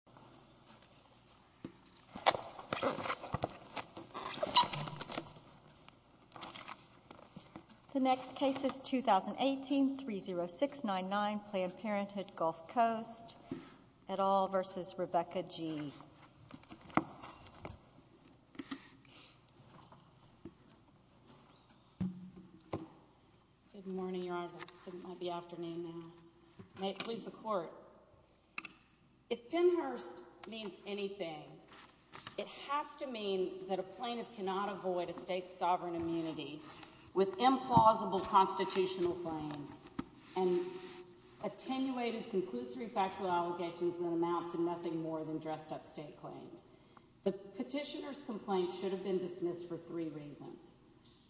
Good morning, your honor. It might be afternoon now. May it please the court. If Pinher is First, means anything. It has to mean that a plaintiff cannot avoid a state's sovereign immunity with implausible constitutional claims and attenuated conclusory factual allegations that amount to nothing more than dressed up state claims. The petitioner's complaint should have been dismissed for three reasons.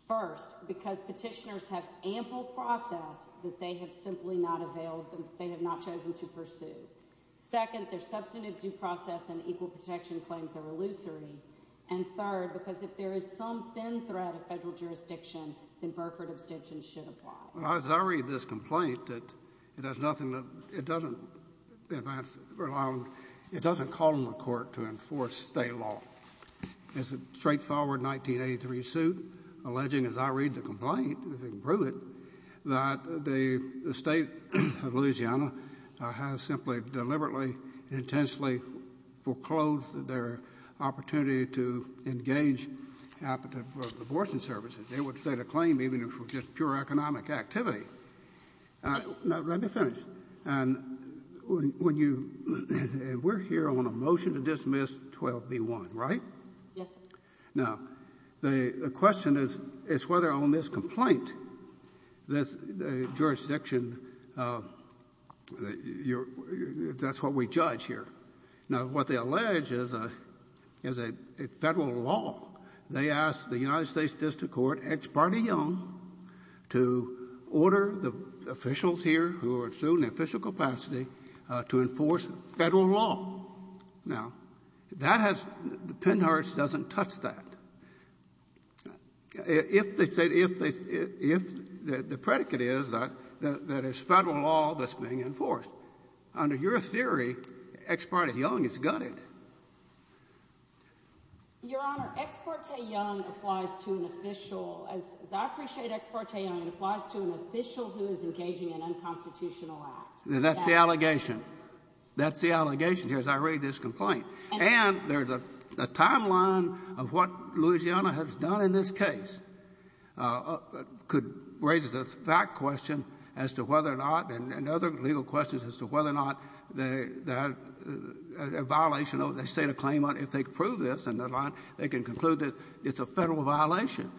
First, because petitioners have ample process that they have simply not availed, they have not chosen to pursue. Second, their substantive due process and equal protection claims are illusory. And third, because if there is some thin thread of federal jurisdiction, then Burford abstention should apply. As I read this complaint, it has nothing to, it doesn't advance, it doesn't call on the court to enforce state law. It's a straightforward 1983 suit alleging, as I read the complaint, if you can prove it, that the state of Louisiana has simply deliberately and intentionally foreclosed their opportunity to engage in abortion services. They would set a claim even if it were just pure economic activity. Now, let me finish. And when you, we're here on a motion to dismiss 12b-1, right? Yes, sir. Now, the question is, is whether on this complaint, this jurisdiction, you're, that's what we judge here. Now, what they allege is a, is a Federal law. They asked the United States district court, Ex parte Young, to order the officials here who are in official capacity to enforce Federal law. Now, that has, the Pennhurst doesn't touch that. If they say, if they, if the predicate is that, that it's Federal law that's being enforced, under your theory, Ex parte Young is gutted. Your Honor, Ex parte Young applies to an official, as I appreciate Ex parte Young, it applies to an official who is engaging in unconstitutional act. Now, that's the allegation. That's the allegation here as I read this complaint. And there's a timeline of what Louisiana has done in this case, could raise the fact question as to whether or not, and other legal questions as to whether or not that a violation of the State of Claimant, if they prove this in their line, they can conclude that it's a Federal violation,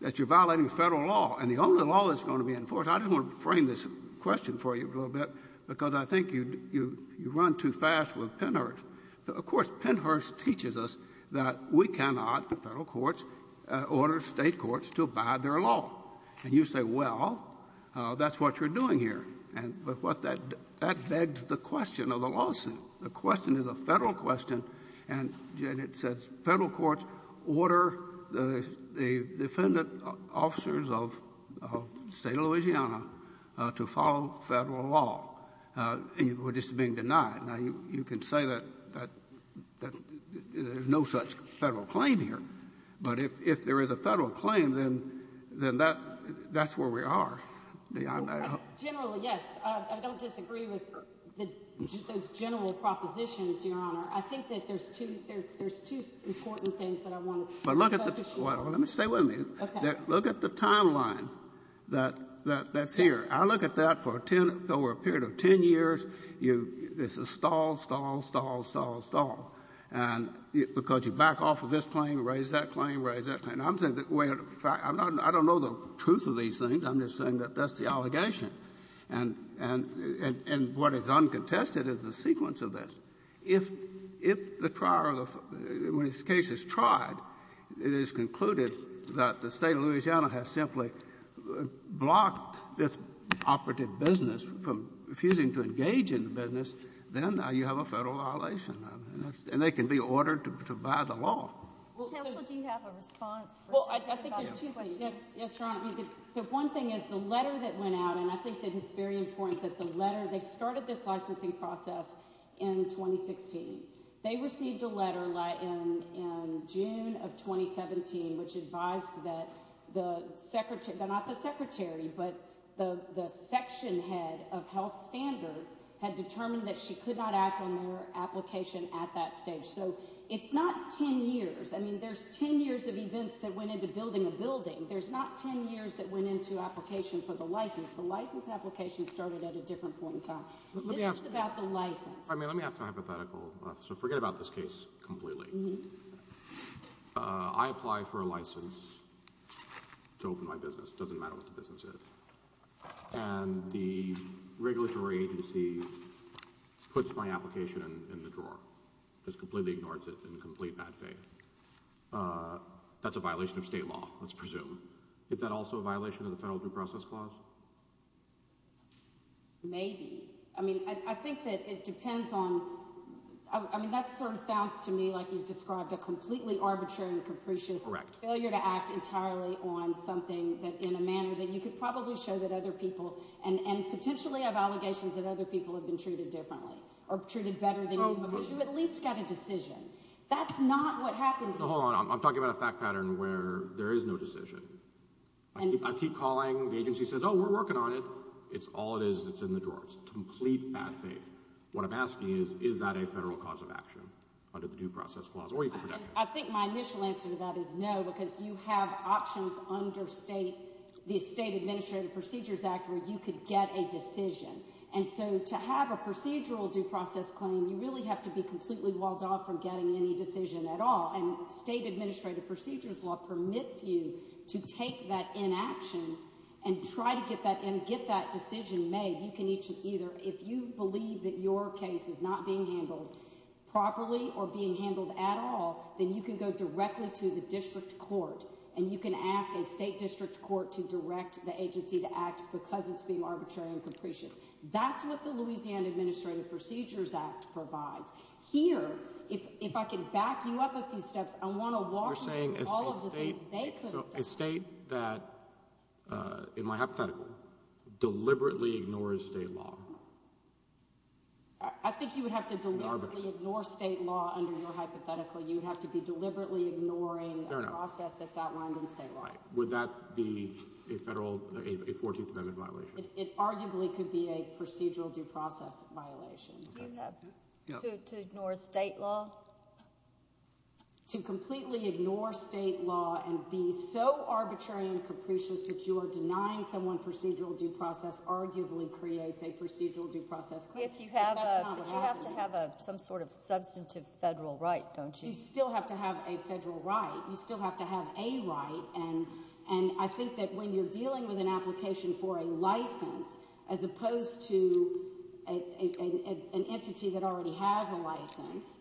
that you're violating Federal law. And the only law that's going to be enforced, I just want to frame this question for you a little bit, because I think you, you run too fast with Pennhurst. Of course, Pennhurst teaches us that we cannot, Federal courts, order State courts to abide their law. And you say, well, that's what you're doing here. And what that, that begs the question of the lawsuit. The question is a Federal question. And it says Federal courts order the, the defendant officers of, of the State of Louisiana to follow Federal law. And you, we're just being denied. Now, you, you can say that, that, that there's no such Federal claim here. But if, if there is a Federal claim, then, then that, that's where we are. The, I'm not going to ---- Generally, yes. I, I don't disagree with the, those general propositions, Your Honor. I think that there's two, there's, there's two important things that I want to ---- But look at the, well, let me stay with me. Okay. Look at the timeline that, that, that's here. I look at that for ten, over a period of ten years. You, this is stalled, stalled, stalled, stalled, stalled. And because you back off of this claim, raise that claim, raise that claim. I'm saying that, well, in fact, I'm not, I don't know the truth of these things. I'm just saying that that's the allegation. And, and, and, and what is uncontested is the sequence of this. If, if the prior, when this case is tried, it is concluded that the State of Louisiana has simply blocked this operative business from refusing to engage in the business, then now you have a federal violation. I mean, that's, and they can be ordered to, to buy the law. Counsel, do you have a response? Well, I, I think there are two things. Yes, Your Honor. So one thing is the letter that went out, and I think that it's very important that the letter, they started this licensing process in 2016. They received a letter in, in June of 2017, which advised that the secretary, not the secretary, but the, the section head of health standards had determined that she could not act on their application at that stage. So it's not 10 years. I mean, there's 10 years of events that went into building a building. There's not 10 years that went into application for the license. The license application started at a different point in time. This is about the license. I mean, let me ask a hypothetical. So forget about this case completely. Mm-hm. I apply for a license to open my business. Doesn't matter what the business is. And the regulatory agency puts my application in, in the drawer. Just completely ignores it in complete bad faith. That's a violation of state law, let's presume. Is that also a violation of the federal due process clause? Maybe. I mean, I, I think that it depends on, I, I mean, that sort of sounds to me like you've described a completely arbitrary and capricious. Correct. Failure to act entirely on something that, in a manner that you could probably show that other people, and, and potentially have allegations that other people have been treated differently, or treated better than you, because you at least got a decision. That's not what happened. So hold on, I'm, I'm talking about a fact pattern where there is no decision. And. I keep calling, the agency says, oh, we're working on it. It's all it is, it's in the drawer. It's complete bad faith. What I'm asking is, is that a federal cause of action? Under the due process clause, or equal protection? I think my initial answer to that is no, because you have options under state, the State Administrative Procedures Act, where you could get a decision. And so, to have a procedural due process claim, you really have to be completely walled off from getting any decision at all, and state administrative procedures law permits you to take that inaction, and try to get that, and get that decision made. You can either, if you believe that your case is not being handled properly, or being handled at all, then you can go directly to the district court, and you can ask a state district court to direct the agency to act, because it's being arbitrary and capricious. That's what the Louisiana Administrative Procedures Act provides. Here, if, if I could back you up a few steps, I want to walk you through all of the things they couldn't do. So, a state that, in my hypothetical, deliberately ignores state law? I think you would have to deliberately ignore state law under your hypothetical. You would have to be deliberately ignoring a process that's outlined in state law. Would that be a federal, a 14th Amendment violation? It arguably could be a procedural due process violation. To ignore state law? Well, to completely ignore state law, and be so arbitrary and capricious that you are denying someone procedural due process, arguably creates a procedural due process. If you have a, but you have to have a, some sort of substantive federal right, don't you? You still have to have a federal right, you still have to have a right, and, and I think that when you're dealing with an application for a license, as opposed to a, a, an entity that already has a license,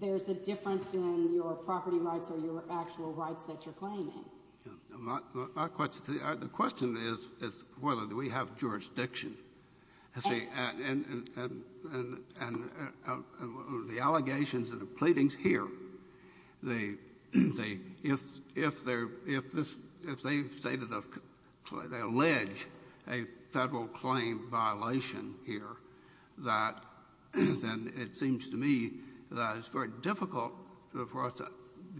there's a difference in your property rights or your actual rights that you're claiming. My, my question, the question is, is whether we have jurisdiction. And, and, and, and, and, and the allegations and the pleadings here, the, the, if, if they're, if this, if they stated a, they allege a federal claim violation here, that is, and it seems to me that it's very difficult for us to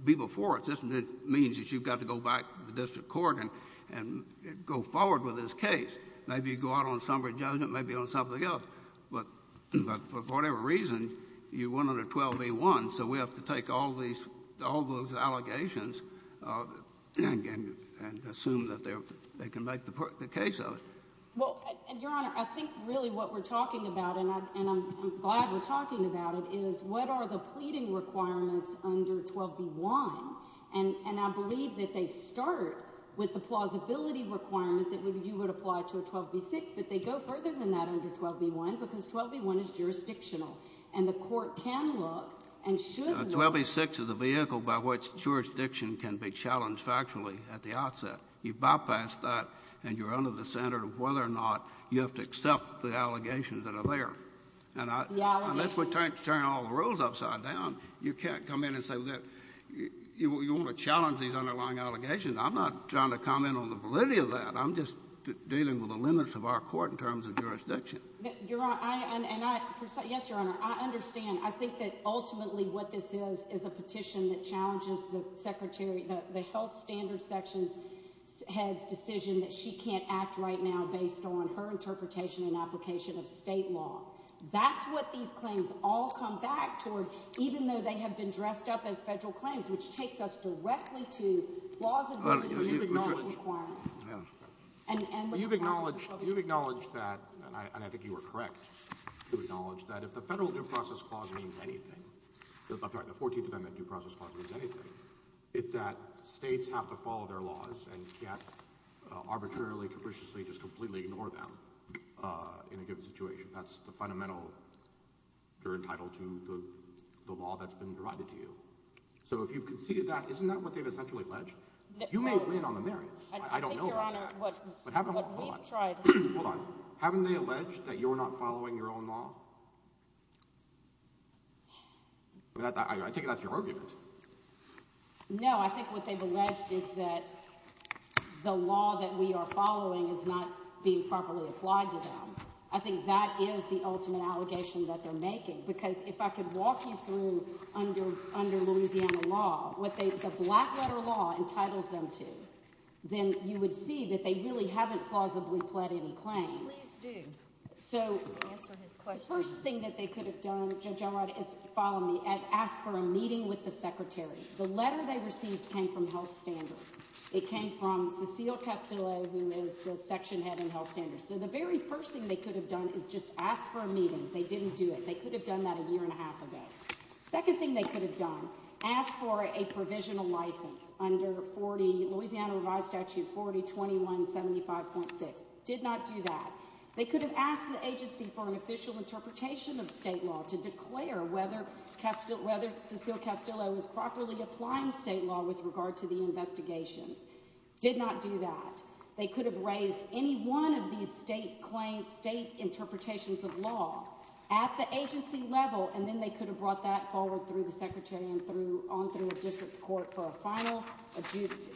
be before it. It just means that you've got to go back to the district court and, and go forward with this case. Maybe you go out on summary judgment, maybe on something else. But, but for whatever reason, you went under 12A1, so we have to take all these, all those allegations and, and, and assume that they're, they can make the, the case of it. Well, Your Honor, I think really what we're talking about, and I, and I'm, I'm glad we're talking about it, is what are the pleading requirements under 12B1? And, and I believe that they start with the plausibility requirement that would, you would apply to a 12B6, but they go further than that under 12B1, because 12B1 is jurisdictional. And the court can look and should look. 12B6 is a vehicle by which jurisdiction can be challenged factually at the outset. You bypass that, and you're under the center of whether or not you have to accept the allegations that are there. And I, unless we turn, turn all the rules upside down, you can't come in and say, look, you, you want to challenge these underlying allegations. I'm not trying to comment on the validity of that. I'm just dealing with the limits of our court in terms of jurisdiction. Your Honor, I, and I, yes, Your Honor, I understand. I think that ultimately what this is, is a petition that challenges the secretary, the, the health standards section's head's decision that she can't act right now based on her interpretation and application of state law. That's what these claims all come back toward, even though they have been dressed up as federal claims, which takes us directly to plausibility requirements. And, and you've acknowledged, you've acknowledged that, and I, and I think you were correct to acknowledge that if the federal due process clause means anything, I'm sorry, the 14th Amendment due process clause means anything, it's that states have to follow their laws and get arbitrarily, capriciously, just completely ignore them in a given situation. That's the fundamental, you're entitled to the law that's been provided to you. So if you've conceded that, isn't that what they've essentially alleged? You may win on the merits. I don't know about that. I think, Your Honor, what, what we've tried. Hold on. Hold on. Haven't they alleged that you're not following your own law? I think that's your argument. No, I think what they've alleged is that the law that we are following is not being properly applied to them. I think that is the ultimate allegation that they're making. Because if I could walk you through under, under Louisiana law, what they, the black letter law entitles them to, then you would see that they really haven't plausibly pled any claims. Please do. So, answer his question. The first thing that they could have done, Judge Elrod, is, follow me, is ask for a meeting with the Secretary. The letter they received came from health standards. It came from Cecile Castillo, who is the section head in health standards. So the very first thing they could have done is just ask for a meeting. They didn't do it. They could have done that a year and a half ago. Second thing they could have done, ask for a provisional license under 40, Louisiana revised statute 402175.6. Did not do that. They could have asked the agency for an official interpretation of state law to declare whether Castillo, whether Cecile Castillo was properly applying state law with regard to the investigations. Did not do that. They could have raised any one of these state claims, state interpretations of law at the agency level, and then they could have brought that forward through the Secretary and through, on through a district court for a final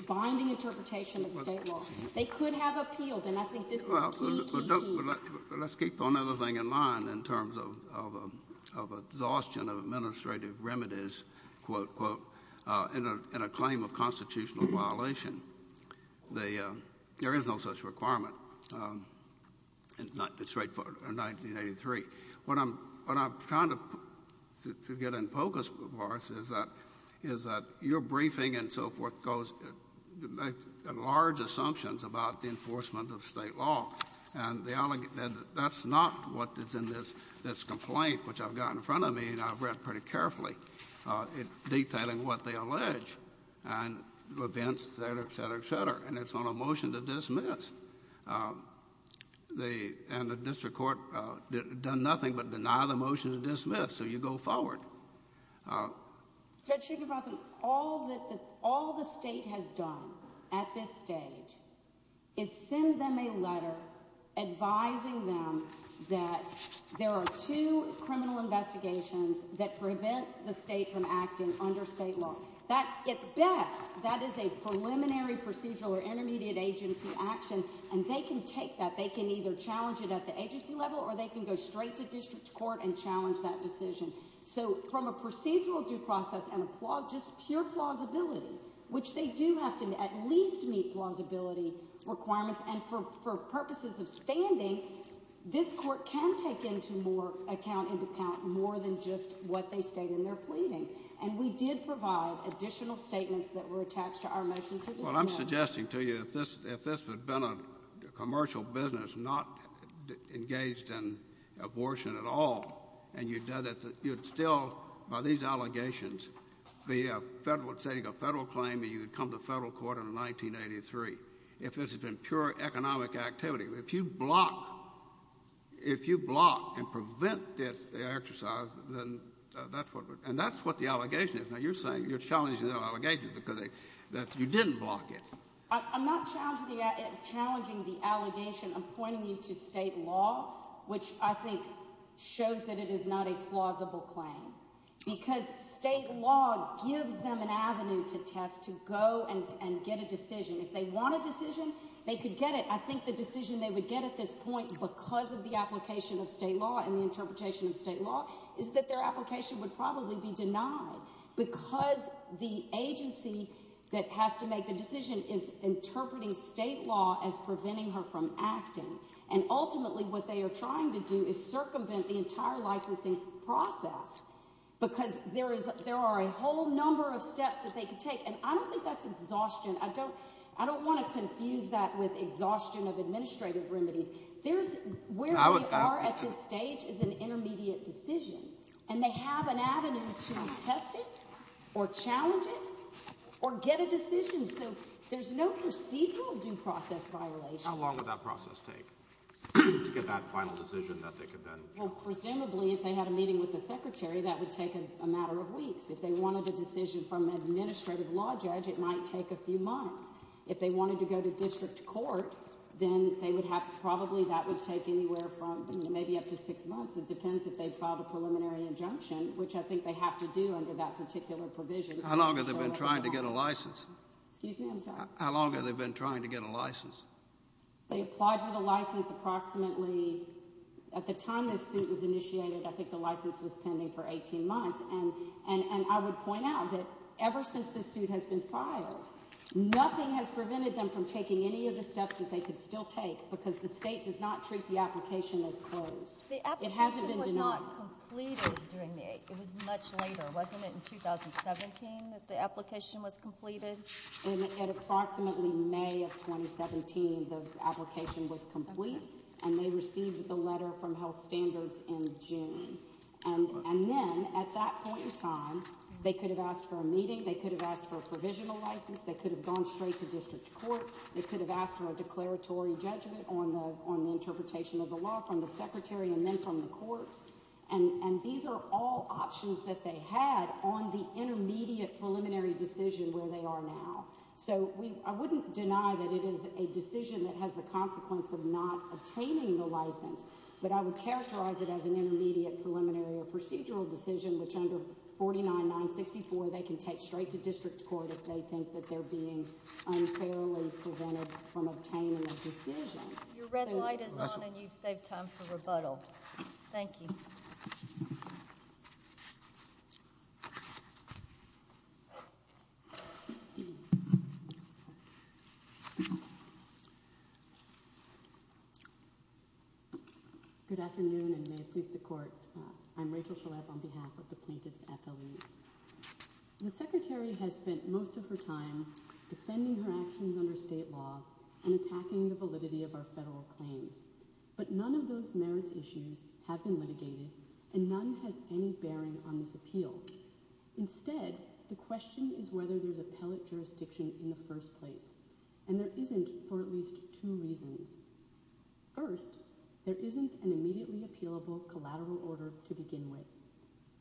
binding interpretation of state law. They could have appealed, and I think this is key, key, key. Well, let's keep one other thing in mind in terms of exhaustion of administrative remedies, quote, quote, in a claim of constitutional violation. There is no such requirement, it's straightforward, in 1983. What I'm trying to get in focus for us is that your briefing and so forth goes, a large assumptions about the enforcement of state law, and that's not what is in this complaint, which I've got in front of me, and I've read pretty carefully, detailing what they allege, and events, et cetera, et cetera, et cetera, and it's on a motion to dismiss. And the district court done nothing but deny the motion to dismiss, so you go forward. Judge Shakenbotham, all that, all the state has done at this stage is send them a letter advising them that there are two criminal investigations that prevent the state from acting under state law. That, at best, that is a preliminary procedural or intermediate agency action, and they can take that, they can either challenge it at the agency level, or they can go straight to district court and challenge that decision. So, from a procedural due process, and just pure plausibility, which they do have to at least meet plausibility requirements, and for purposes of standing, this court can take into account more than just what they state in their pleadings, and we did provide additional statements that were attached to our motion to dismiss. Well, I'm suggesting to you, if this had been a commercial business not engaged in a commercial business, you'd still, by these allegations, be a federal, say, a federal claim, and you'd come to federal court in 1983, if this had been pure economic activity. If you block, if you block and prevent this exercise, then that's what, and that's what the allegation is. Now, you're saying, you're challenging the allegation because they, that you didn't block it. I'm not challenging the, challenging the allegation. I'm pointing you to state law, which I think shows that it is not a plausible claim, because state law gives them an avenue to test, to go and get a decision. If they want a decision, they could get it. I think the decision they would get at this point, because of the application of state law and the interpretation of state law, is that their application would probably be denied, because the agency that has to make the decision is interpreting state law as preventing her from acting, and ultimately, what they are trying to do is circumvent the entire licensing process, because there is, there are a whole number of steps that they could take, and I don't think that's exhaustion. I don't, I don't want to confuse that with exhaustion of administrative remedies. There's, where we are at this stage is an intermediate decision, and they have an avenue to test it, or challenge it, or get a decision, so there's no procedural due process violation. How long would that process take to get that final decision that they could then? Well, presumably, if they had a meeting with the secretary, that would take a matter of weeks. If they wanted a decision from an administrative law judge, it might take a few months. If they wanted to go to district court, then they would have, probably that would take anywhere from maybe up to six months. It depends if they filed a preliminary injunction, which I think they have to do under that particular provision. How long have they been trying to get a license? Excuse me, I'm sorry. How long have they been trying to get a license? They applied for the license approximately, at the time this suit was initiated, I think the license was pending for 18 months, and I would point out that ever since this suit has been filed, nothing has prevented them from taking any of the steps that they could still take, because the state does not treat the application as closed. The application was not completed during the, it was much later, wasn't it in 2017 that the application was completed? In approximately May of 2017, the application was complete, and they received the letter from health standards in June. And then, at that point in time, they could have asked for a meeting, they could have asked for a provisional license, they could have gone straight to district court, they could have asked for a declaratory judgment on the interpretation of the law from the secretary and then from the courts, and these are all options that they had on the intermediate preliminary decision where they are now. So, I wouldn't deny that it is a decision that has the consequence of not obtaining the license, but I would characterize it as an intermediate preliminary or procedural decision which under 49-964 they can take straight to district court if they think that they're being unfairly prevented from obtaining a decision. Your red light is on and you've saved time for rebuttal. Thank you. Good afternoon, and may it please the court, I'm Rachel Shalev on behalf of the Plaintiffs' Appellees. The secretary has spent most of her time defending her actions under state law and attacking the validity of our federal claims, but none of those merits issues have been litigated and none has any bearing on this appeal. Instead, the question is whether there's appellate jurisdiction in the first place, and there isn't for at least two reasons. First, there isn't an immediately appealable collateral order to begin with,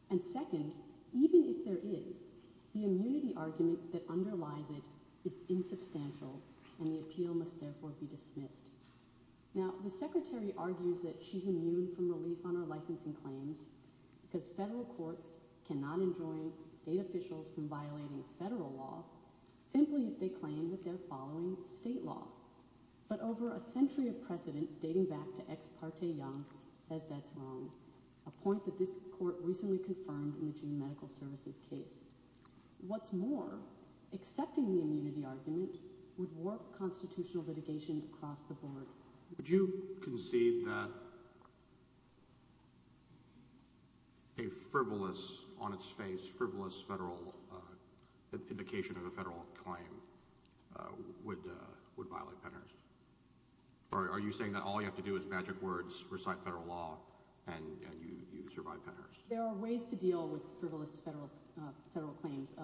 and second, even if there is, the immunity argument that underlies it is insubstantial and the appeal must therefore be dismissed. Now, the secretary argues that she's immune from relief on her licensing claims because federal courts cannot enjoin state officials from violating federal law simply if they claim that they're following state law. But over a century of precedent dating back to ex parte Young says that's wrong, a point that this court recently confirmed in the June Medical Services case. What's more, accepting the immunity argument would warp constitutional litigation across the board. Would you concede that a frivolous, on its face, frivolous federal indication of a federal claim would violate Pennhurst? Are you saying that all you have to do is magic words, recite federal law, and you survive Pennhurst? There are ways to deal with frivolous federal claims.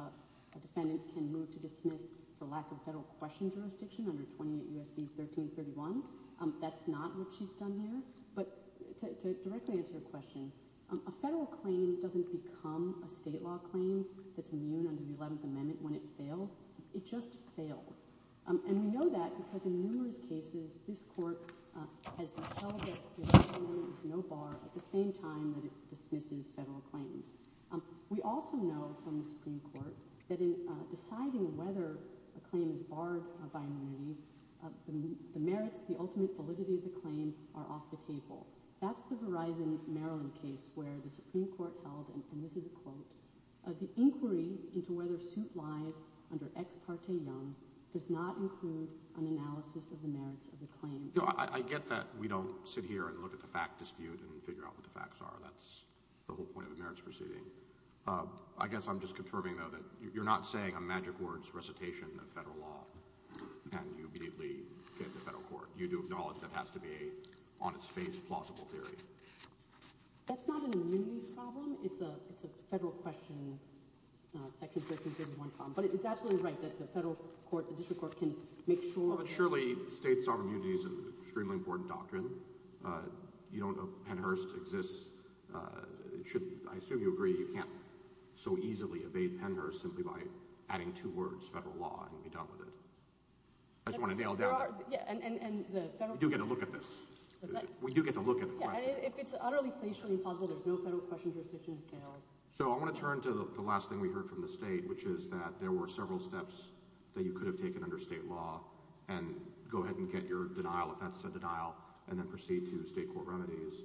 A defendant can move to dismiss for lack of federal question jurisdiction under 28 U.S.C. 1331. That's not what she's done here. But to directly answer your question, a federal claim doesn't become a state law claim that's immune under the 11th Amendment when it fails. It just fails. And we know that because in numerous cases, this court has held that the 11th Amendment is no bar at the same time that it dismisses federal claims. We also know from the Supreme Court that in deciding whether a claim is barred by immunity, the merits, the ultimate validity of the claim are off the table. That's the Verizon Maryland case where the Supreme Court held, and this is a quote, the inquiry into whether suit lies under ex parte young does not include an analysis of the merits of the claim. I get that we don't sit here and look at the fact dispute and figure out what the facts are. That's the whole point of the merits proceeding. I guess I'm just confirming, though, that you're not saying a magic words recitation of federal law and you immediately get the federal court. You do acknowledge that has to be a on its face plausible theory. That's not an immunity problem. It's a it's a federal question. Second, but it's absolutely right that the federal court, the district court can make sure that surely state sovereignty is an extremely important doctrine. You don't know Pennhurst exists. It should. I assume you agree you can't so easily evade Pennhurst simply by adding two words, federal law and be done with it. I just want to nail down and you get a look at this. We do get to look at if it's utterly facially impossible. There's no federal question. So I want to turn to the last thing we heard from the state, which is that there were several steps that you could have taken under state law and go ahead and get your denial. If that's a denial and then proceed to state court remedies,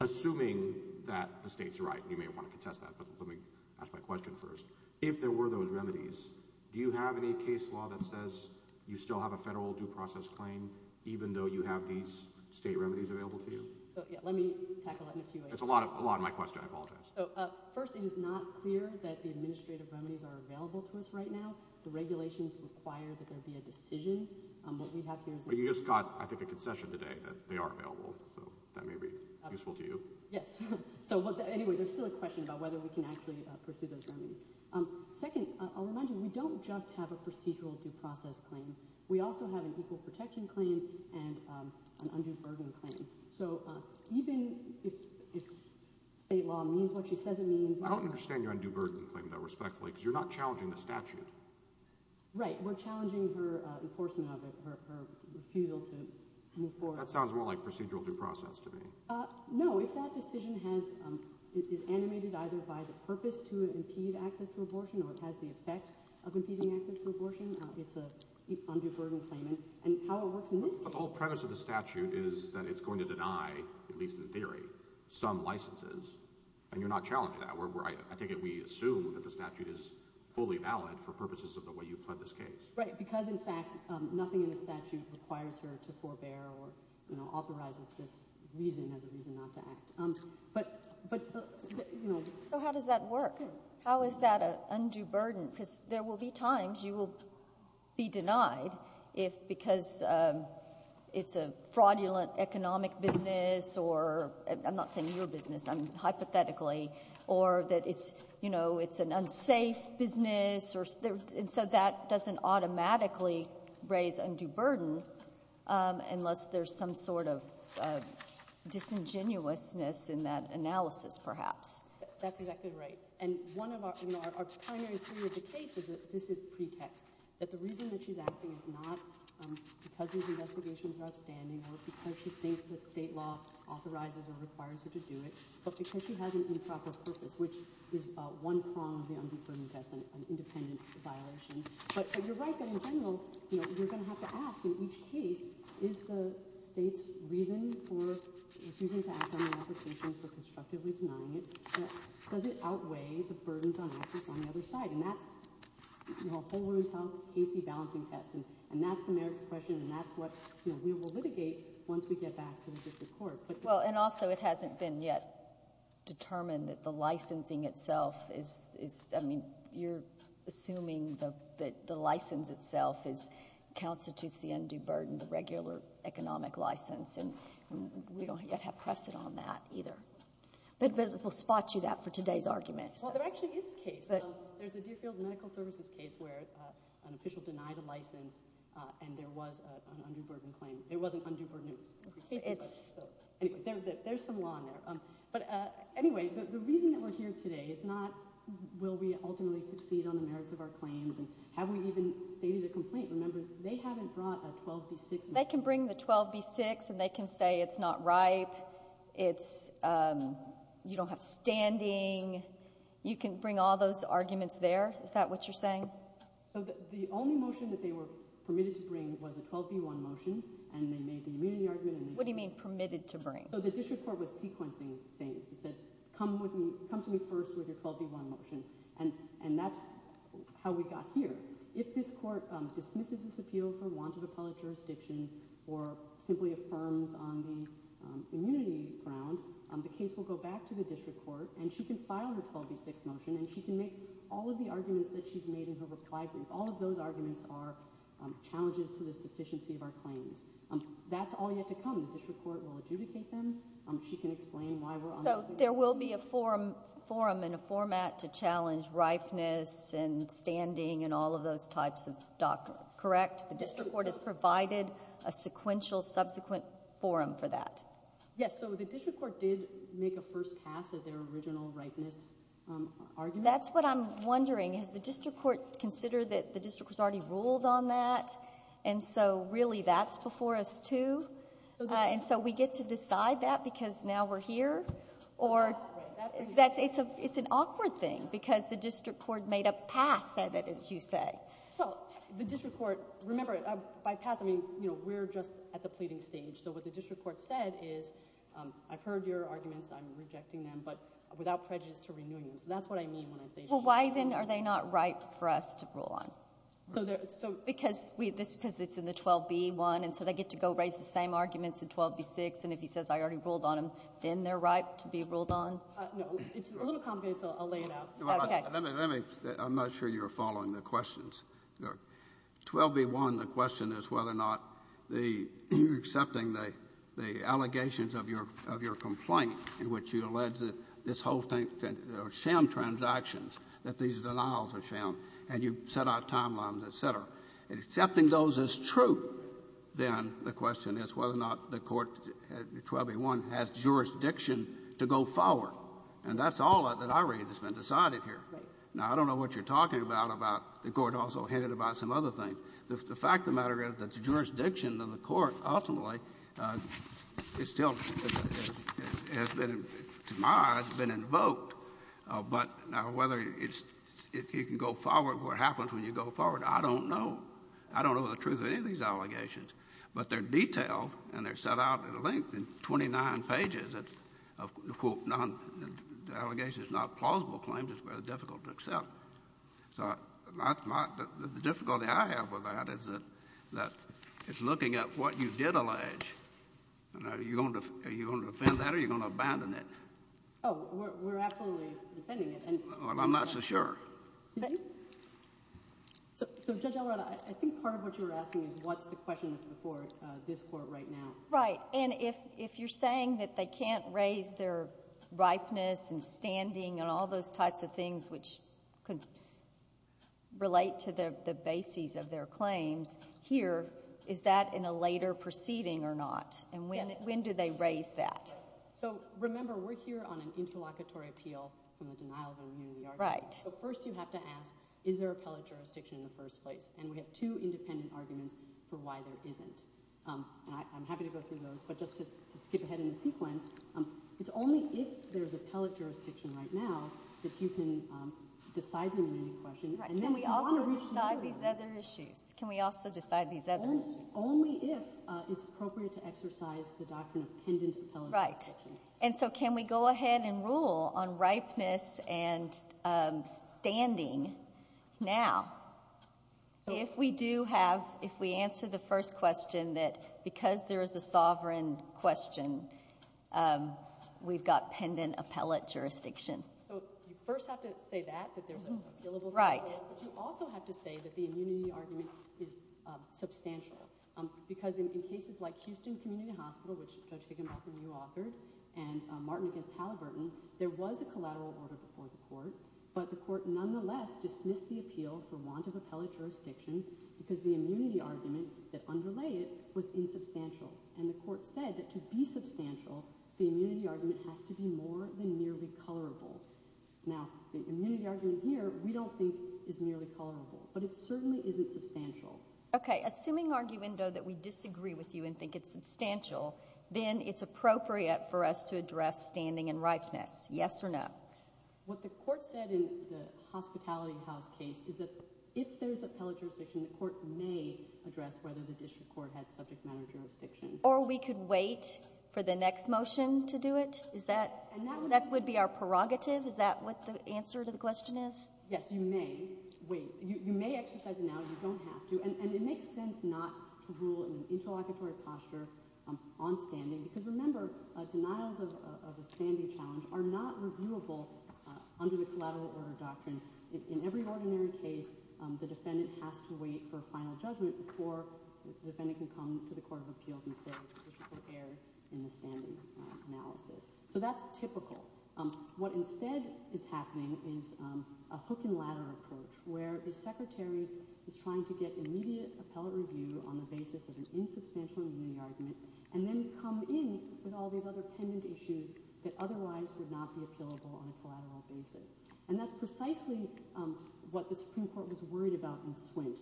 assuming that the state's right, you may want to contest that. But let me ask my question first. If there were those remedies, do you have any case law that says you still have a federal due process claim, even though you have these state remedies available to you? Let me tackle it. It's a lot of a lot of my question. I apologize. First, it is not clear that the administrative remedies are available to us right now. The regulations require that there be a decision on what we have here. You just got, I think, a concession today that they are available. So that may be useful to you. Yes. So anyway, there's still a question about whether we can actually pursue those remedies. Second, I'll remind you, we don't just have a procedural due process claim. We also have an equal protection claim and an undue burden claim. So even if state law means what she says it means. I don't understand your undue burden claim, though, respectfully, because you're not challenging the statute. Right. We're challenging her enforcement of it, her refusal to move forward. That sounds more like procedural due process to me. No, if that decision has is animated either by the purpose to impede access to abortion or it has the effect of impeding access to abortion, it's an undue burden claim. And how it works in this case. The whole premise of the statute is that it's going to deny, at least in theory, some licenses. And you're not challenging that. We're right. I think we assume that the statute is fully valid for purposes of the way you pled this case. Right. Because, in fact, nothing in the statute requires her to forbear or authorizes this reason as a reason not to act. But, you know. So how does that work? How is that an undue burden? Because there will be times you will be denied if because it's a fraudulent economic business or I'm not saying your business, I'm hypothetically, or that it's, you know, it's an unsafe business or so that doesn't automatically raise undue burden unless there's some sort of disingenuousness in that analysis, perhaps. That's exactly right. And one of our, you know, our primary theory of the case is that this is pretext, that the reason that she's acting is not because these investigations are outstanding or because she thinks that state law authorizes or requires her to do it, but because she has an improper purpose, which is one prong of the undue burden test, an independent violation. But you're right that in general, you know, you're going to have to ask in each case, is the state's reason for refusing to act on the application for constructively denying it, does it outweigh the burdens on access on the other side? And that's, you know, a whole woman's health case-y balancing test. And that's the merits question and that's what, you know, we will litigate once we get back to the district court. Well, and also it hasn't been yet determined that the licensing itself is, I mean, you're assuming that the license itself constitutes the undue burden, the regular economic license, and we don't yet have precedent on that either. But we'll spot you that for today's argument. Well, there actually is a case. There's a Deerfield Medical Services case where an official denied a license and there was an undue burden claim. There was an undue burden case. Anyway, there's some law in there. But anyway, the reason that we're here today is not will we ultimately succeed on the merits of our claims and have we even stated a complaint? Remember, they haven't brought a 12b-6. They can bring the 12b-6 and they can say it's not ripe, it's, you don't have standing. You can bring all those arguments there. Is that what you're saying? The only motion that they were permitted to bring was a 12b-1 motion and they made the immunity argument. What do you mean permitted to bring? So the district court was sequencing things. It said, come to me first with your 12b-1 motion. And that's how we got here. If this court dismisses this appeal for want of appellate jurisdiction or simply affirms on the immunity ground, the case will go back to the district court and she can file her 12b-6 motion and she can make all of the arguments that she's made in her reply brief. All of those arguments are challenges to the sufficiency of our claims. That's all yet to come. The district court will adjudicate them. She can explain why we're on the... There will be a forum in a format to challenge ripeness and standing and all of those types of documents, correct? The district court has provided a sequential subsequent forum for that. Yes, so the district court did make a first pass at their original ripeness argument. That's what I'm wondering. Has the district court considered that the district has already ruled on that? And so really that's before us too. And so we get to decide that because now we're here. Or it's an awkward thing because the district court made a pass at it, as you say. Well, the district court... Remember, by pass, I mean, we're just at the pleading stage. So what the district court said is, I've heard your arguments, I'm rejecting them, but without prejudice to renewing them. So that's what I mean when I say... Well, why then are they not ripe for us to rule on? Because it's in the 12b one and so they get to go raise the same arguments in 12b-6. And if he says, I already ruled on them, then they're ripe to be ruled on? No. It's a little complicated, so I'll lay it out. Okay. Let me, let me. I'm not sure you're following the questions. 12b-1, the question is whether or not the you're accepting the allegations of your complaint in which you allege that this whole thing are sham transactions, that these denials are sham, and you've set out timelines, et cetera. And accepting those as true, then the question is whether or not the Court at 12b-1 has jurisdiction to go forward. And that's all that I read that's been decided here. Now, I don't know what you're talking about, about the Court also hinted about some other thing. The fact of the matter is that the jurisdiction of the Court ultimately is still has been, to my eye, has been invoked. But now whether it's, it can go forward, what happens when you go forward, I don't know. I don't know the truth of any of these allegations. But they're detailed, and they're set out at length in 29 pages of, quote, non, allegations, not plausible claims, it's very difficult to accept. So, my, the difficulty I have with that is that, that it's looking at what you did allege. And are you going to, are you going to defend that or are you going to abandon it? Oh, we're, we're absolutely defending it. Well, I'm not so sure. So, Judge Alvarado, I think part of what you're asking is what's the question for this Court right now? Right. And if, if you're saying that they can't raise their ripeness and standing and all those types of things which could relate to the, the bases of their claims, here, is that in a later proceeding or not? And when, when do they raise that? So, remember, we're here on an interlocutory appeal from the denial of immunity argument. Right. So, first you have to ask, is there appellate jurisdiction in the first place? And we have two independent arguments for why there isn't. And I, I'm happy to go through those, but just to, to skip ahead in the sequence, it's only if there's appellate jurisdiction right now that you can decide the immunity question. Right. Can we also decide these other issues? Can we also decide these other issues? Only if it's appropriate to exercise the doctrine of pendent appellate jurisdiction. Right. And so, can we go ahead and rule on ripeness and standing now? If we do have, if we answer the first question that because there is a sovereign question, we've got pendent appellate jurisdiction. So, you first have to say that, that there's an appealable clause. Right. But you also have to say that the immunity argument is substantial. Because in cases like Houston Community Hospital, which Judge Higginbotham, you authored, and Martin against Halliburton, there was a collateral order before the court, but the court nonetheless dismissed the appeal for want of appellate jurisdiction because the immunity argument that underlay it was insubstantial. And the court said that to be substantial, the immunity argument has to be more than merely colorable. Now, the immunity argument here, we don't think is nearly colorable, but it certainly isn't substantial. Okay. Assuming, arguendo, that we disagree with you and think it's substantial, then it's appropriate for us to address standing and ripeness. Yes or no? What the court said in the Hospitality House case is that if there's appellate jurisdiction, the court may address whether the district court had subject matter jurisdiction. Or we could wait for the next motion to do it? Is that, that would be our prerogative? Is that what the answer to the question is? Yes, you may. Wait. You may exercise it now. You don't have to. And it makes sense not to rule in an interlocutory posture on standing. Because remember, denials of a standing challenge are not reviewable under the collateral order doctrine. In every ordinary case, the defendant has to wait for a final judgment before the defendant can come to the Court of Appeals and say the district court erred in the standing analysis. So that's typical. What instead is happening is a hook and ladder approach where the secretary is trying to get immediate appellate review on the basis of an insubstantial review argument and then come in with all these other pendent issues that otherwise would not be appealable on a collateral basis. And that's precisely what the Supreme Court was worried about in Swint,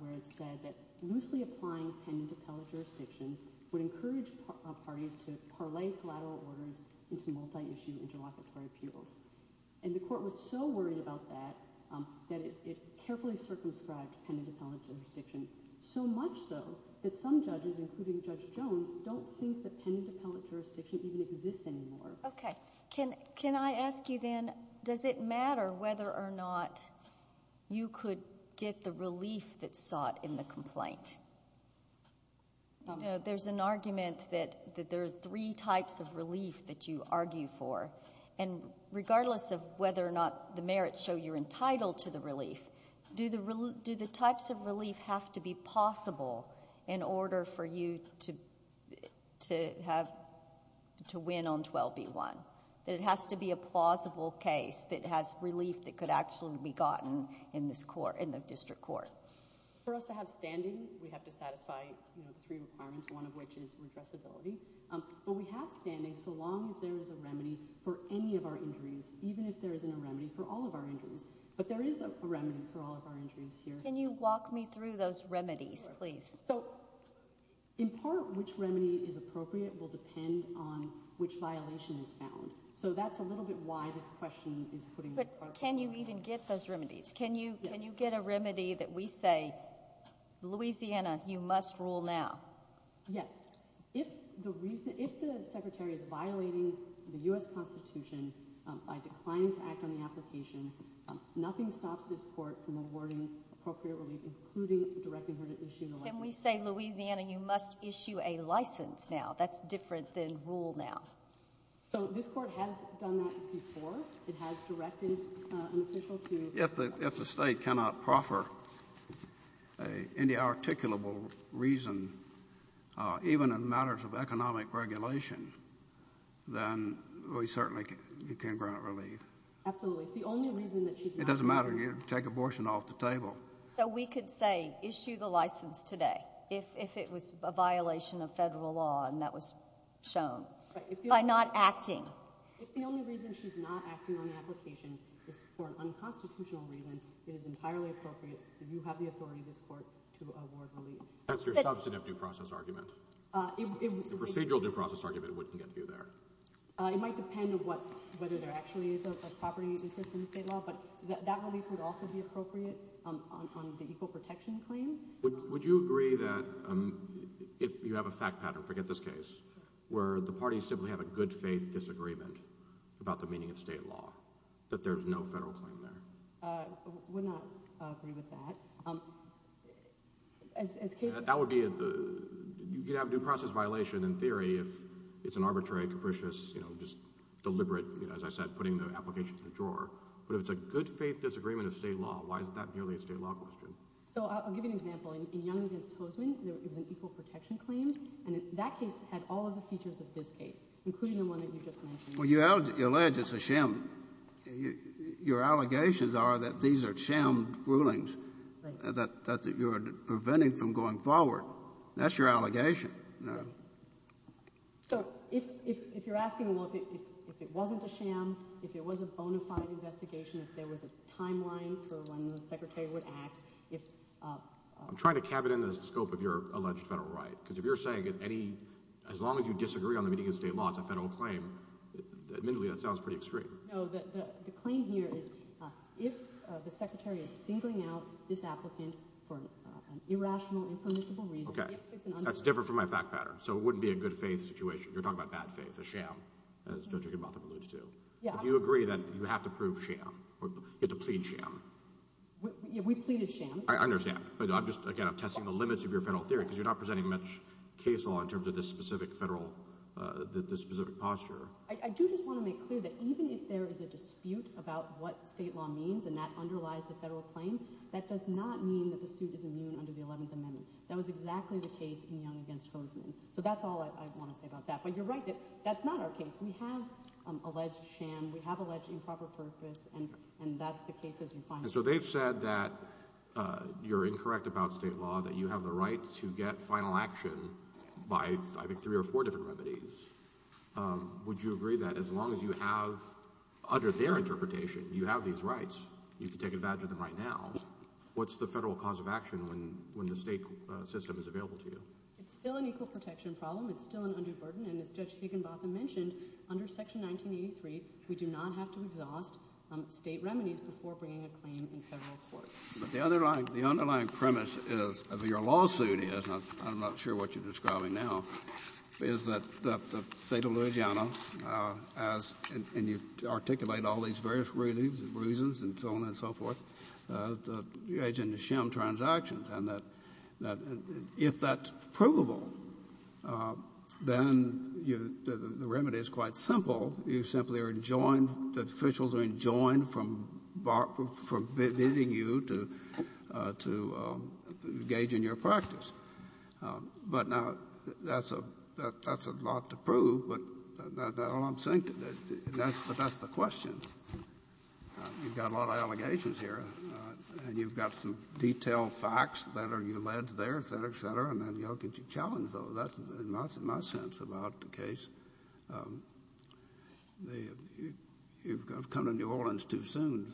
where it said that loosely applying pendent appellate jurisdiction would encourage parties to parlay collateral orders into multi-issue interlocutory appeals. And the court was so worried about that that it carefully circumscribed pendent appellate jurisdiction. So much so that some judges, including Judge Jones, don't think that pendent appellate jurisdiction even exists anymore. OK. Can I ask you then, does it matter whether or not you could get the relief that's sought in the complaint? There's an argument that there are three types of relief that you argue for. And regardless of whether or not the merits show you're entitled to the relief, do the types of relief have to be possible in order for you to win on 12B1? That it has to be a plausible case that has relief that could actually be gotten in the district court? For us to have standing, we have to satisfy three requirements, one of which is redressability. But we have standing so long as there is a remedy for any of our injuries, even if there isn't a remedy for all of our injuries. But there is a remedy for all of our injuries here. Can you walk me through those remedies, please? So in part, which remedy is appropriate will depend on which violation is found. So that's a little bit why this question is putting it in part. But can you even get those remedies? Can you get a remedy that we say, Louisiana, you must rule now? Yes. If the reason — if the secretary is violating the U.S. Constitution by declining to act on the application, nothing stops this court from awarding appropriate relief, including directing her to issue the license. Can we say, Louisiana, you must issue a license now? That's different than rule now. So this court has done that before. It has directed an official to — If the state cannot proffer any articulable reason, even in matters of economic regulation, then we certainly can grant relief. Absolutely. If the only reason that she's — It doesn't matter. You take abortion off the table. So we could say, issue the license today, if it was a violation of federal law and that was shown, by not acting. If the only reason she's not acting on an application is for an unconstitutional reason, it is entirely appropriate that you have the authority, this court, to award relief. That's your substantive due process argument. The procedural due process argument wouldn't get you there. It might depend on what — whether there actually is a property interest in the state law, but that relief would also be appropriate on the equal protection claim. Would you agree that if you have a fact pattern — forget this case — where the parties simply have a good-faith disagreement about the meaning of state law, that there's no federal claim there? Would not agree with that. As cases — That would be — you could have a due process violation, in theory, if it's an arbitrary, capricious, you know, just deliberate, as I said, putting the application to the drawer. But if it's a good-faith disagreement of state law, why is that merely a state law question? So I'll give you an example. In Young v. Hoseman, it was an equal protection claim, and that case had all of the features of this case, including the one that you just mentioned. Well, you allege it's a sham. Your allegations are that these are sham rulings that you are preventing from going forward. That's your allegation. So if you're asking, well, if it wasn't a sham, if it was a bona fide investigation, if there was a timeline for when the Secretary would act, if — I'm trying to cap it in the scope of your alleged federal right, because if you're disagreeing on the meeting of state law, it's a federal claim. Admittedly, that sounds pretty extreme. No, the claim here is, if the Secretary is singling out this applicant for an irrational, impermissible reason — Okay. That's different from my fact pattern. So it wouldn't be a good-faith situation. You're talking about bad faith, a sham, as Judge Agubato alludes to. Yeah. But you agree that you have to prove sham, or you have to plead sham. We pleaded sham. I understand. But I'm just, again, I'm testing the limits of your federal theory, because you're not this specific posture. I do just want to make clear that even if there is a dispute about what state law means, and that underlies the federal claim, that does not mean that the suit is immune under the 11th Amendment. That was exactly the case in Young against Hosman. So that's all I want to say about that. But you're right that that's not our case. We have alleged sham. We have alleged improper purpose. And that's the case, as you find it. So they've said that you're incorrect about state law, that you have the right to get final action by, I think, three or four different remedies. Would you agree that as long as you have, under their interpretation, you have these rights, you can take advantage of them right now, what's the federal cause of action when the state system is available to you? It's still an equal protection problem. It's still an undue burden. And as Judge Higginbotham mentioned, under Section 1983, we do not have to exhaust state remedies before bringing a claim in federal court. But the underlying premise is, of your lawsuit is, and I'm not sure what you're describing now, is that the State of Louisiana has, and you articulate all these various reasons and so on and so forth, the alleged sham transactions. And that if that's provable, then the remedy is quite simple. You simply are enjoined, the officials are enjoined from bar — from bidding you to — to engage in your practice. But now, that's a — that's a lot to prove, but that's all I'm saying, but that's the question. You've got a lot of allegations here, and you've got some detailed facts that are alleged there, et cetera, et cetera, and then, you know, can you challenge those? That's in my sense about the case. You've come to New Orleans too soon.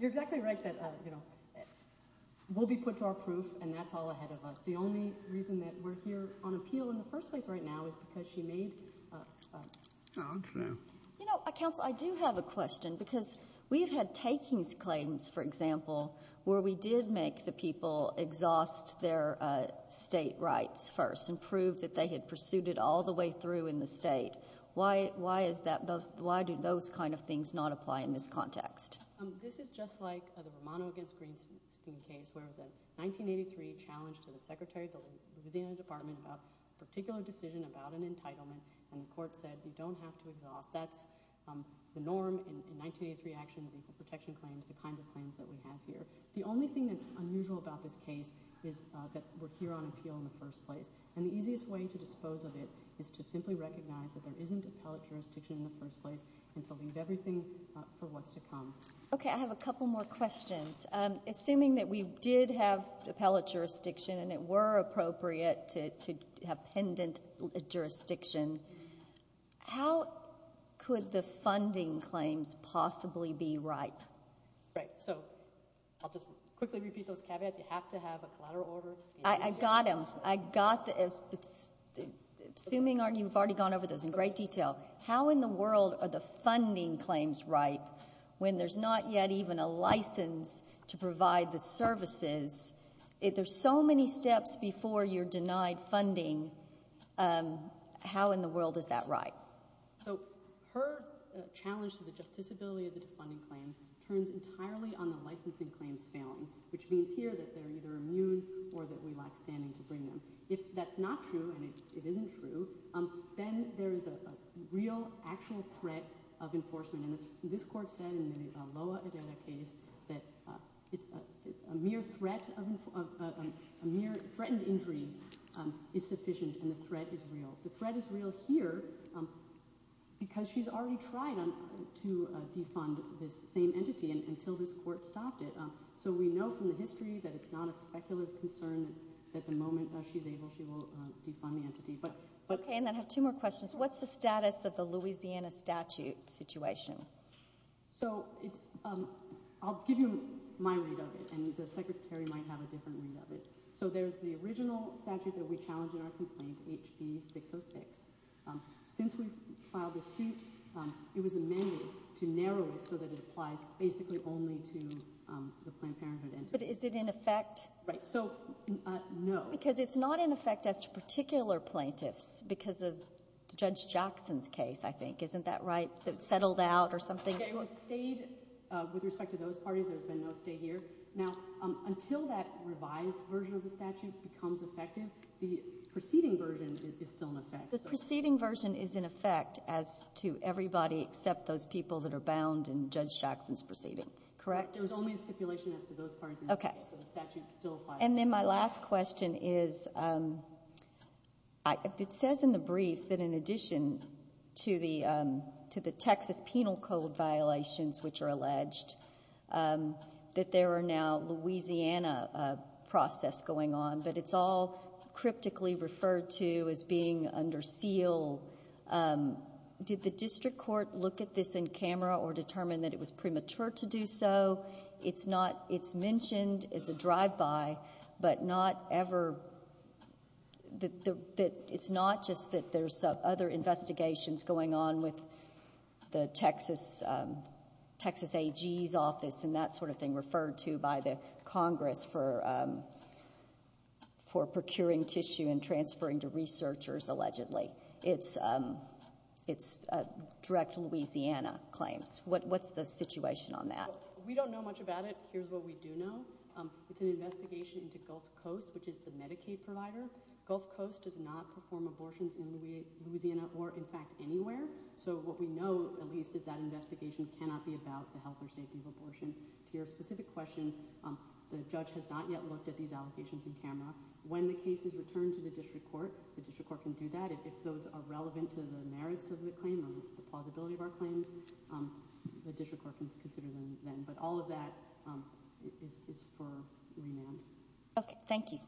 You're exactly right that, you know, we'll be put to our proof, and that's all ahead of us. The only reason that we're here on appeal in the first place right now is because she made — You know, Counsel, I do have a question, because we've had takings claims, for example, that they had exhaust their state rights first and proved that they had pursued it all the way through in the state. Why is that? Why do those kind of things not apply in this context? This is just like the Romano against Greenstein case, where it was a 1983 challenge to the Secretary of the Louisiana Department about a particular decision about an entitlement, and the court said, you don't have to exhaust. That's the norm in 1983 actions, equal protection claims, the kinds of claims that we have here. The only thing that's unusual about this case is that we're here on appeal in the first place, and the easiest way to dispose of it is to simply recognize that there isn't appellate jurisdiction in the first place and to leave everything for what's to come. Okay. I have a couple more questions. Assuming that we did have appellate jurisdiction and it were appropriate to have pendent jurisdiction, how could the funding claims possibly be ripe? Right. I'll just quickly repeat those caveats. You have to have a collateral order. I got them. I got the—assuming you've already gone over those in great detail, how in the world are the funding claims ripe when there's not yet even a license to provide the services? There's so many steps before you're denied funding. How in the world is that ripe? So her challenge to the justiciability of the defunding claims turns entirely on the licensing claims failing, which means here that they're either immune or that we lack standing to bring them. If that's not true and it isn't true, then there is a real, actual threat of enforcement, and this court said in the Loa Edela case that it's a mere threat of—a mere threatened injury is sufficient and the threat is real. The threat is real here because she's already tried to defund this same entity until this court stopped it. So we know from the history that it's not a speculative concern that the moment she's able, she will defund the entity, but— Okay, and then I have two more questions. What's the status of the Louisiana statute situation? So it's—I'll give you my read of it, and the Secretary might have a different read of it. So there's the original statute that we challenged in our complaint, HB 606. Since we filed the suit, it was amended to narrow it so that it applies basically only to the Planned Parenthood entity. But is it in effect— Right, so—no. Because it's not in effect as to particular plaintiffs because of Judge Jackson's case, I think. Isn't that right? Settled out or something? Okay, it was stayed with respect to those parties. There's been no stay here. Now, until that revised version of the statute becomes effective, the preceding version is still in effect. The preceding version is in effect as to everybody except those people that are bound in Judge Jackson's proceeding, correct? There was only a stipulation as to those parties, so the statute still applies. And then my last question is, it says in the briefs that in addition to the Texas Penal Code violations, which are alleged, that there are now Louisiana process going on, but it's all cryptically referred to as being under seal. Did the district court look at this in camera or determine that it was premature to do so? It's not—it's mentioned as a drive-by, but not ever—it's not just that there's other investigations going on with the Texas AG's office and that sort of thing referred to by the Congress for procuring tissue and transferring to researchers, allegedly. It's direct Louisiana claims. What's the situation on that? We don't know much about it. Here's what we do know. It's an investigation into Gulf Coast, which is the Medicaid provider. Gulf Coast does not perform abortions in Louisiana or, in fact, anywhere. So what we know, at least, is that investigation cannot be about the health or safety of abortion. To your specific question, the judge has not yet looked at these allegations in camera. When the case is returned to the district court, the district court can do that. If those are relevant to the merits of the claim or the plausibility of our claims, the district court can consider them then. But all of that is for remand. Okay, thank you.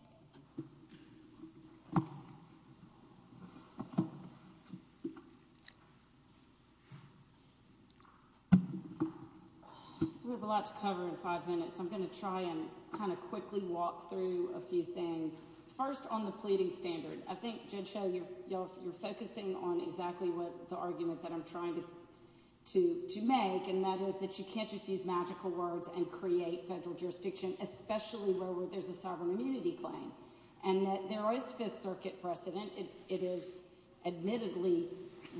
So we have a lot to cover in five minutes. I'm going to try and kind of quickly walk through a few things. First, on the pleading standard. I think, Judge Schell, you're focusing on exactly the argument that I'm trying to make, and that is that you can't just use magical words and create federal jurisdiction, especially where there's a sovereign immunity claim. And that there is Fifth Circuit precedent. It is admittedly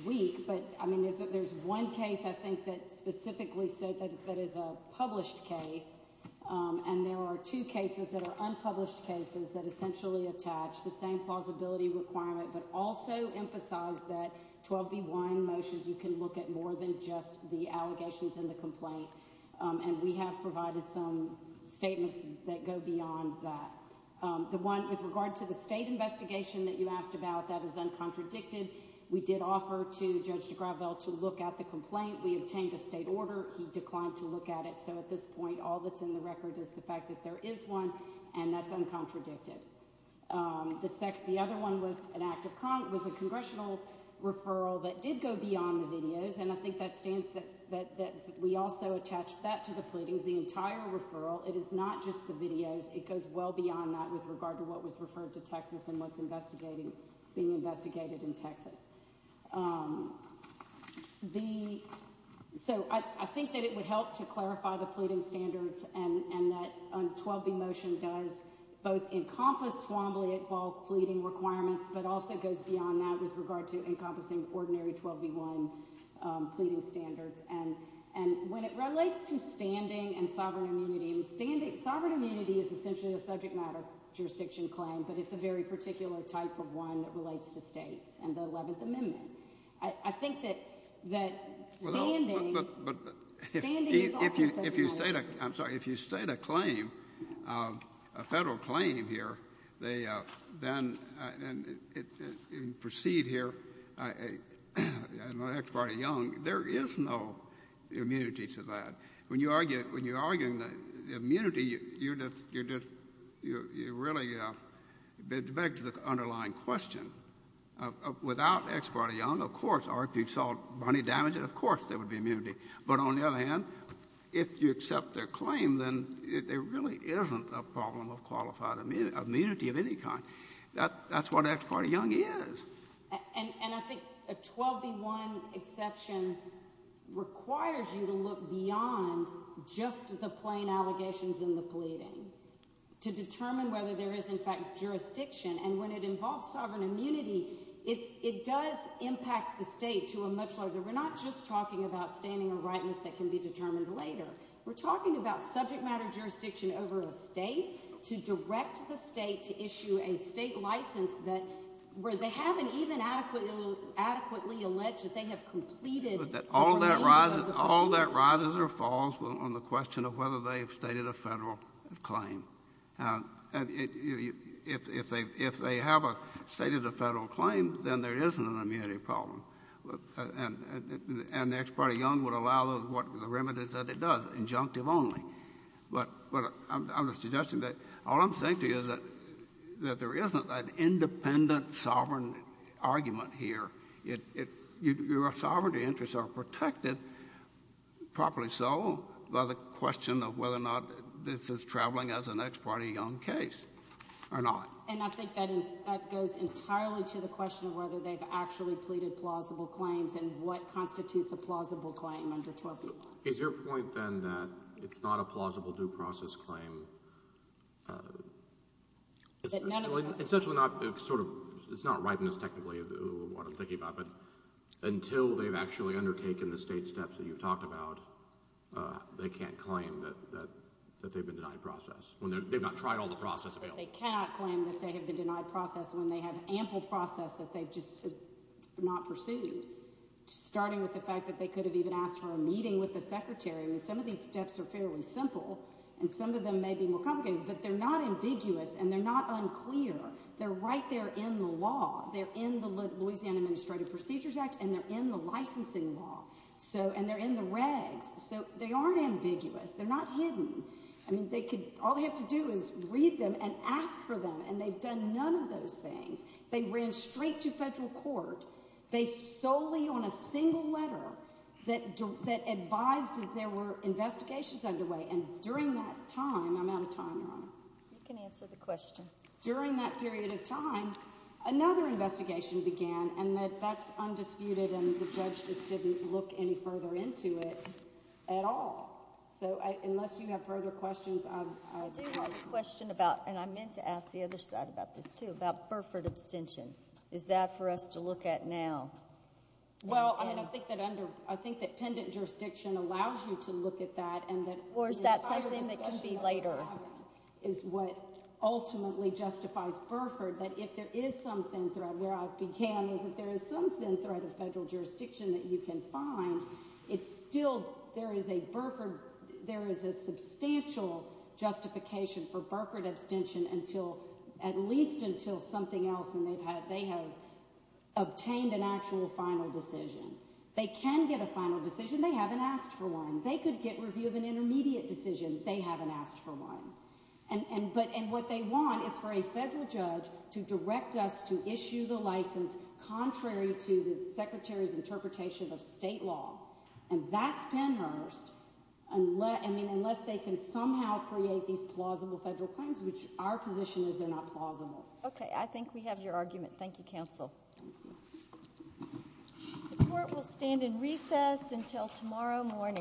weak. But, I mean, there's one case, I think, that specifically said that that is a published case. And there are two cases that are unpublished cases that essentially attach the same plausibility requirement, but also emphasize that 12b1 motions, you can look at more than just the allegations in the complaint. And we have provided some statements that go beyond that. The one with regard to the state investigation that you asked about, that is uncontradicted. We did offer to Judge de Gravel to look at the complaint. We obtained a state order. He declined to look at it. So at this point, all that's in the record is the fact that there is one, and that's uncontradicted. The second, the other one was an act of content, was a congressional referral that did go beyond the videos. And I think that stands that we also attached that to the pleadings, the entire referral. It is not just the videos. It goes well beyond that with regard to what was referred to Texas and what's investigating, being investigated in Texas. The, so I think that it would help to clarify the pleading standards and that 12b motion does both encompass Twombly-Iqbal pleading requirements, but also goes beyond that with regard to encompassing ordinary 12b1 pleading standards. And when it relates to standing and sovereign immunity, and sovereign immunity is essentially a subject matter jurisdiction claim, but it's a very particular type of one that relates to states and the 11th Amendment. I think that standing is also subject matter jurisdiction. I'm sorry. If you state a claim, a Federal claim here, they then proceed here. And with Ex parte Young, there is no immunity to that. When you argue, when you're arguing the immunity, you're just, you're just, you're really, it begs the underlying question. Without Ex parte Young, of course, or if you saw Bonnie damage it, of course there would be immunity. But on the other hand, if you accept their claim, then there really isn't a problem of qualified immunity of any kind. That's what Ex parte Young is. And I think a 12b1 exception requires you to look beyond just the plain allegations in the pleading to determine whether there is in fact jurisdiction. And when it involves sovereign immunity, it does impact the state to a much larger, we're not just talking about standing and rightness that can be determined later. We're talking about subject matter jurisdiction over a state to direct the state to issue a state license that, where they haven't even adequately alleged that they have completed the ordinance of the claim. All that rises or falls on the question of whether they've stated a Federal claim. And if they have stated a Federal claim, then there isn't an immunity problem. And Ex parte Young would allow the remedies that it does, injunctive only. But I'm suggesting that all I'm saying to you is that there isn't an independent sovereign argument here. Your sovereignty interests are protected, properly so, by the question of whether or not this is traveling as an Ex parte Young case or not. And I think that goes entirely to the question of whether they've actually pleaded plausible claims and what constitutes a plausible claim under 12b1. Is your point, then, that it's not a plausible due process claim, essentially not, sort of, it's not rightness technically of what I'm thinking about, but until they've actually undertaken the state steps that you've talked about, they can't claim that they've been denied process. They've not tried all the process available. They cannot claim that they have been denied process when they have ample process that they've just not pursued, starting with the fact that they could have even asked for a secretary. I mean, some of these steps are fairly simple, and some of them may be more complicated, but they're not ambiguous, and they're not unclear. They're right there in the law. They're in the Louisiana Administrative Procedures Act, and they're in the licensing law. So, and they're in the regs, so they aren't ambiguous. They're not hidden. I mean, they could, all they have to do is read them and ask for them, and they've done none of those things. They ran straight to federal court, based solely on a single letter that advised that there were investigations underway, and during that time, I'm out of time, Your Honor. You can answer the question. During that period of time, another investigation began, and that's undisputed, and the judge just didn't look any further into it at all. So unless you have further questions, I'm, I'm. I do have a question about, and I meant to ask the other side about this too, about Burford abstention. Is that for us to look at now? Well, I mean, I think that under, I think that pendant jurisdiction allows you to look at that, and that. Or is that something that could be later? Is what ultimately justifies Burford, that if there is some thin thread, where I began is if there is some thin thread of federal jurisdiction that you can find, it's still, there is a Burford, there is a substantial justification for Burford abstention until, at least until something else, and they've had, they have obtained an actual final decision. They can get a final decision. They haven't asked for one. They could get review of an intermediate decision. They haven't asked for one, and, and, but, and what they want is for a federal judge to direct us to issue the license contrary to the Secretary's interpretation of state law, and that's Pennhurst, unless, I mean, unless they can somehow create these plausible federal claims, which our position is they're not plausible. Okay, I think we have your argument. Thank you, counsel. The court will stand in recess until tomorrow morning.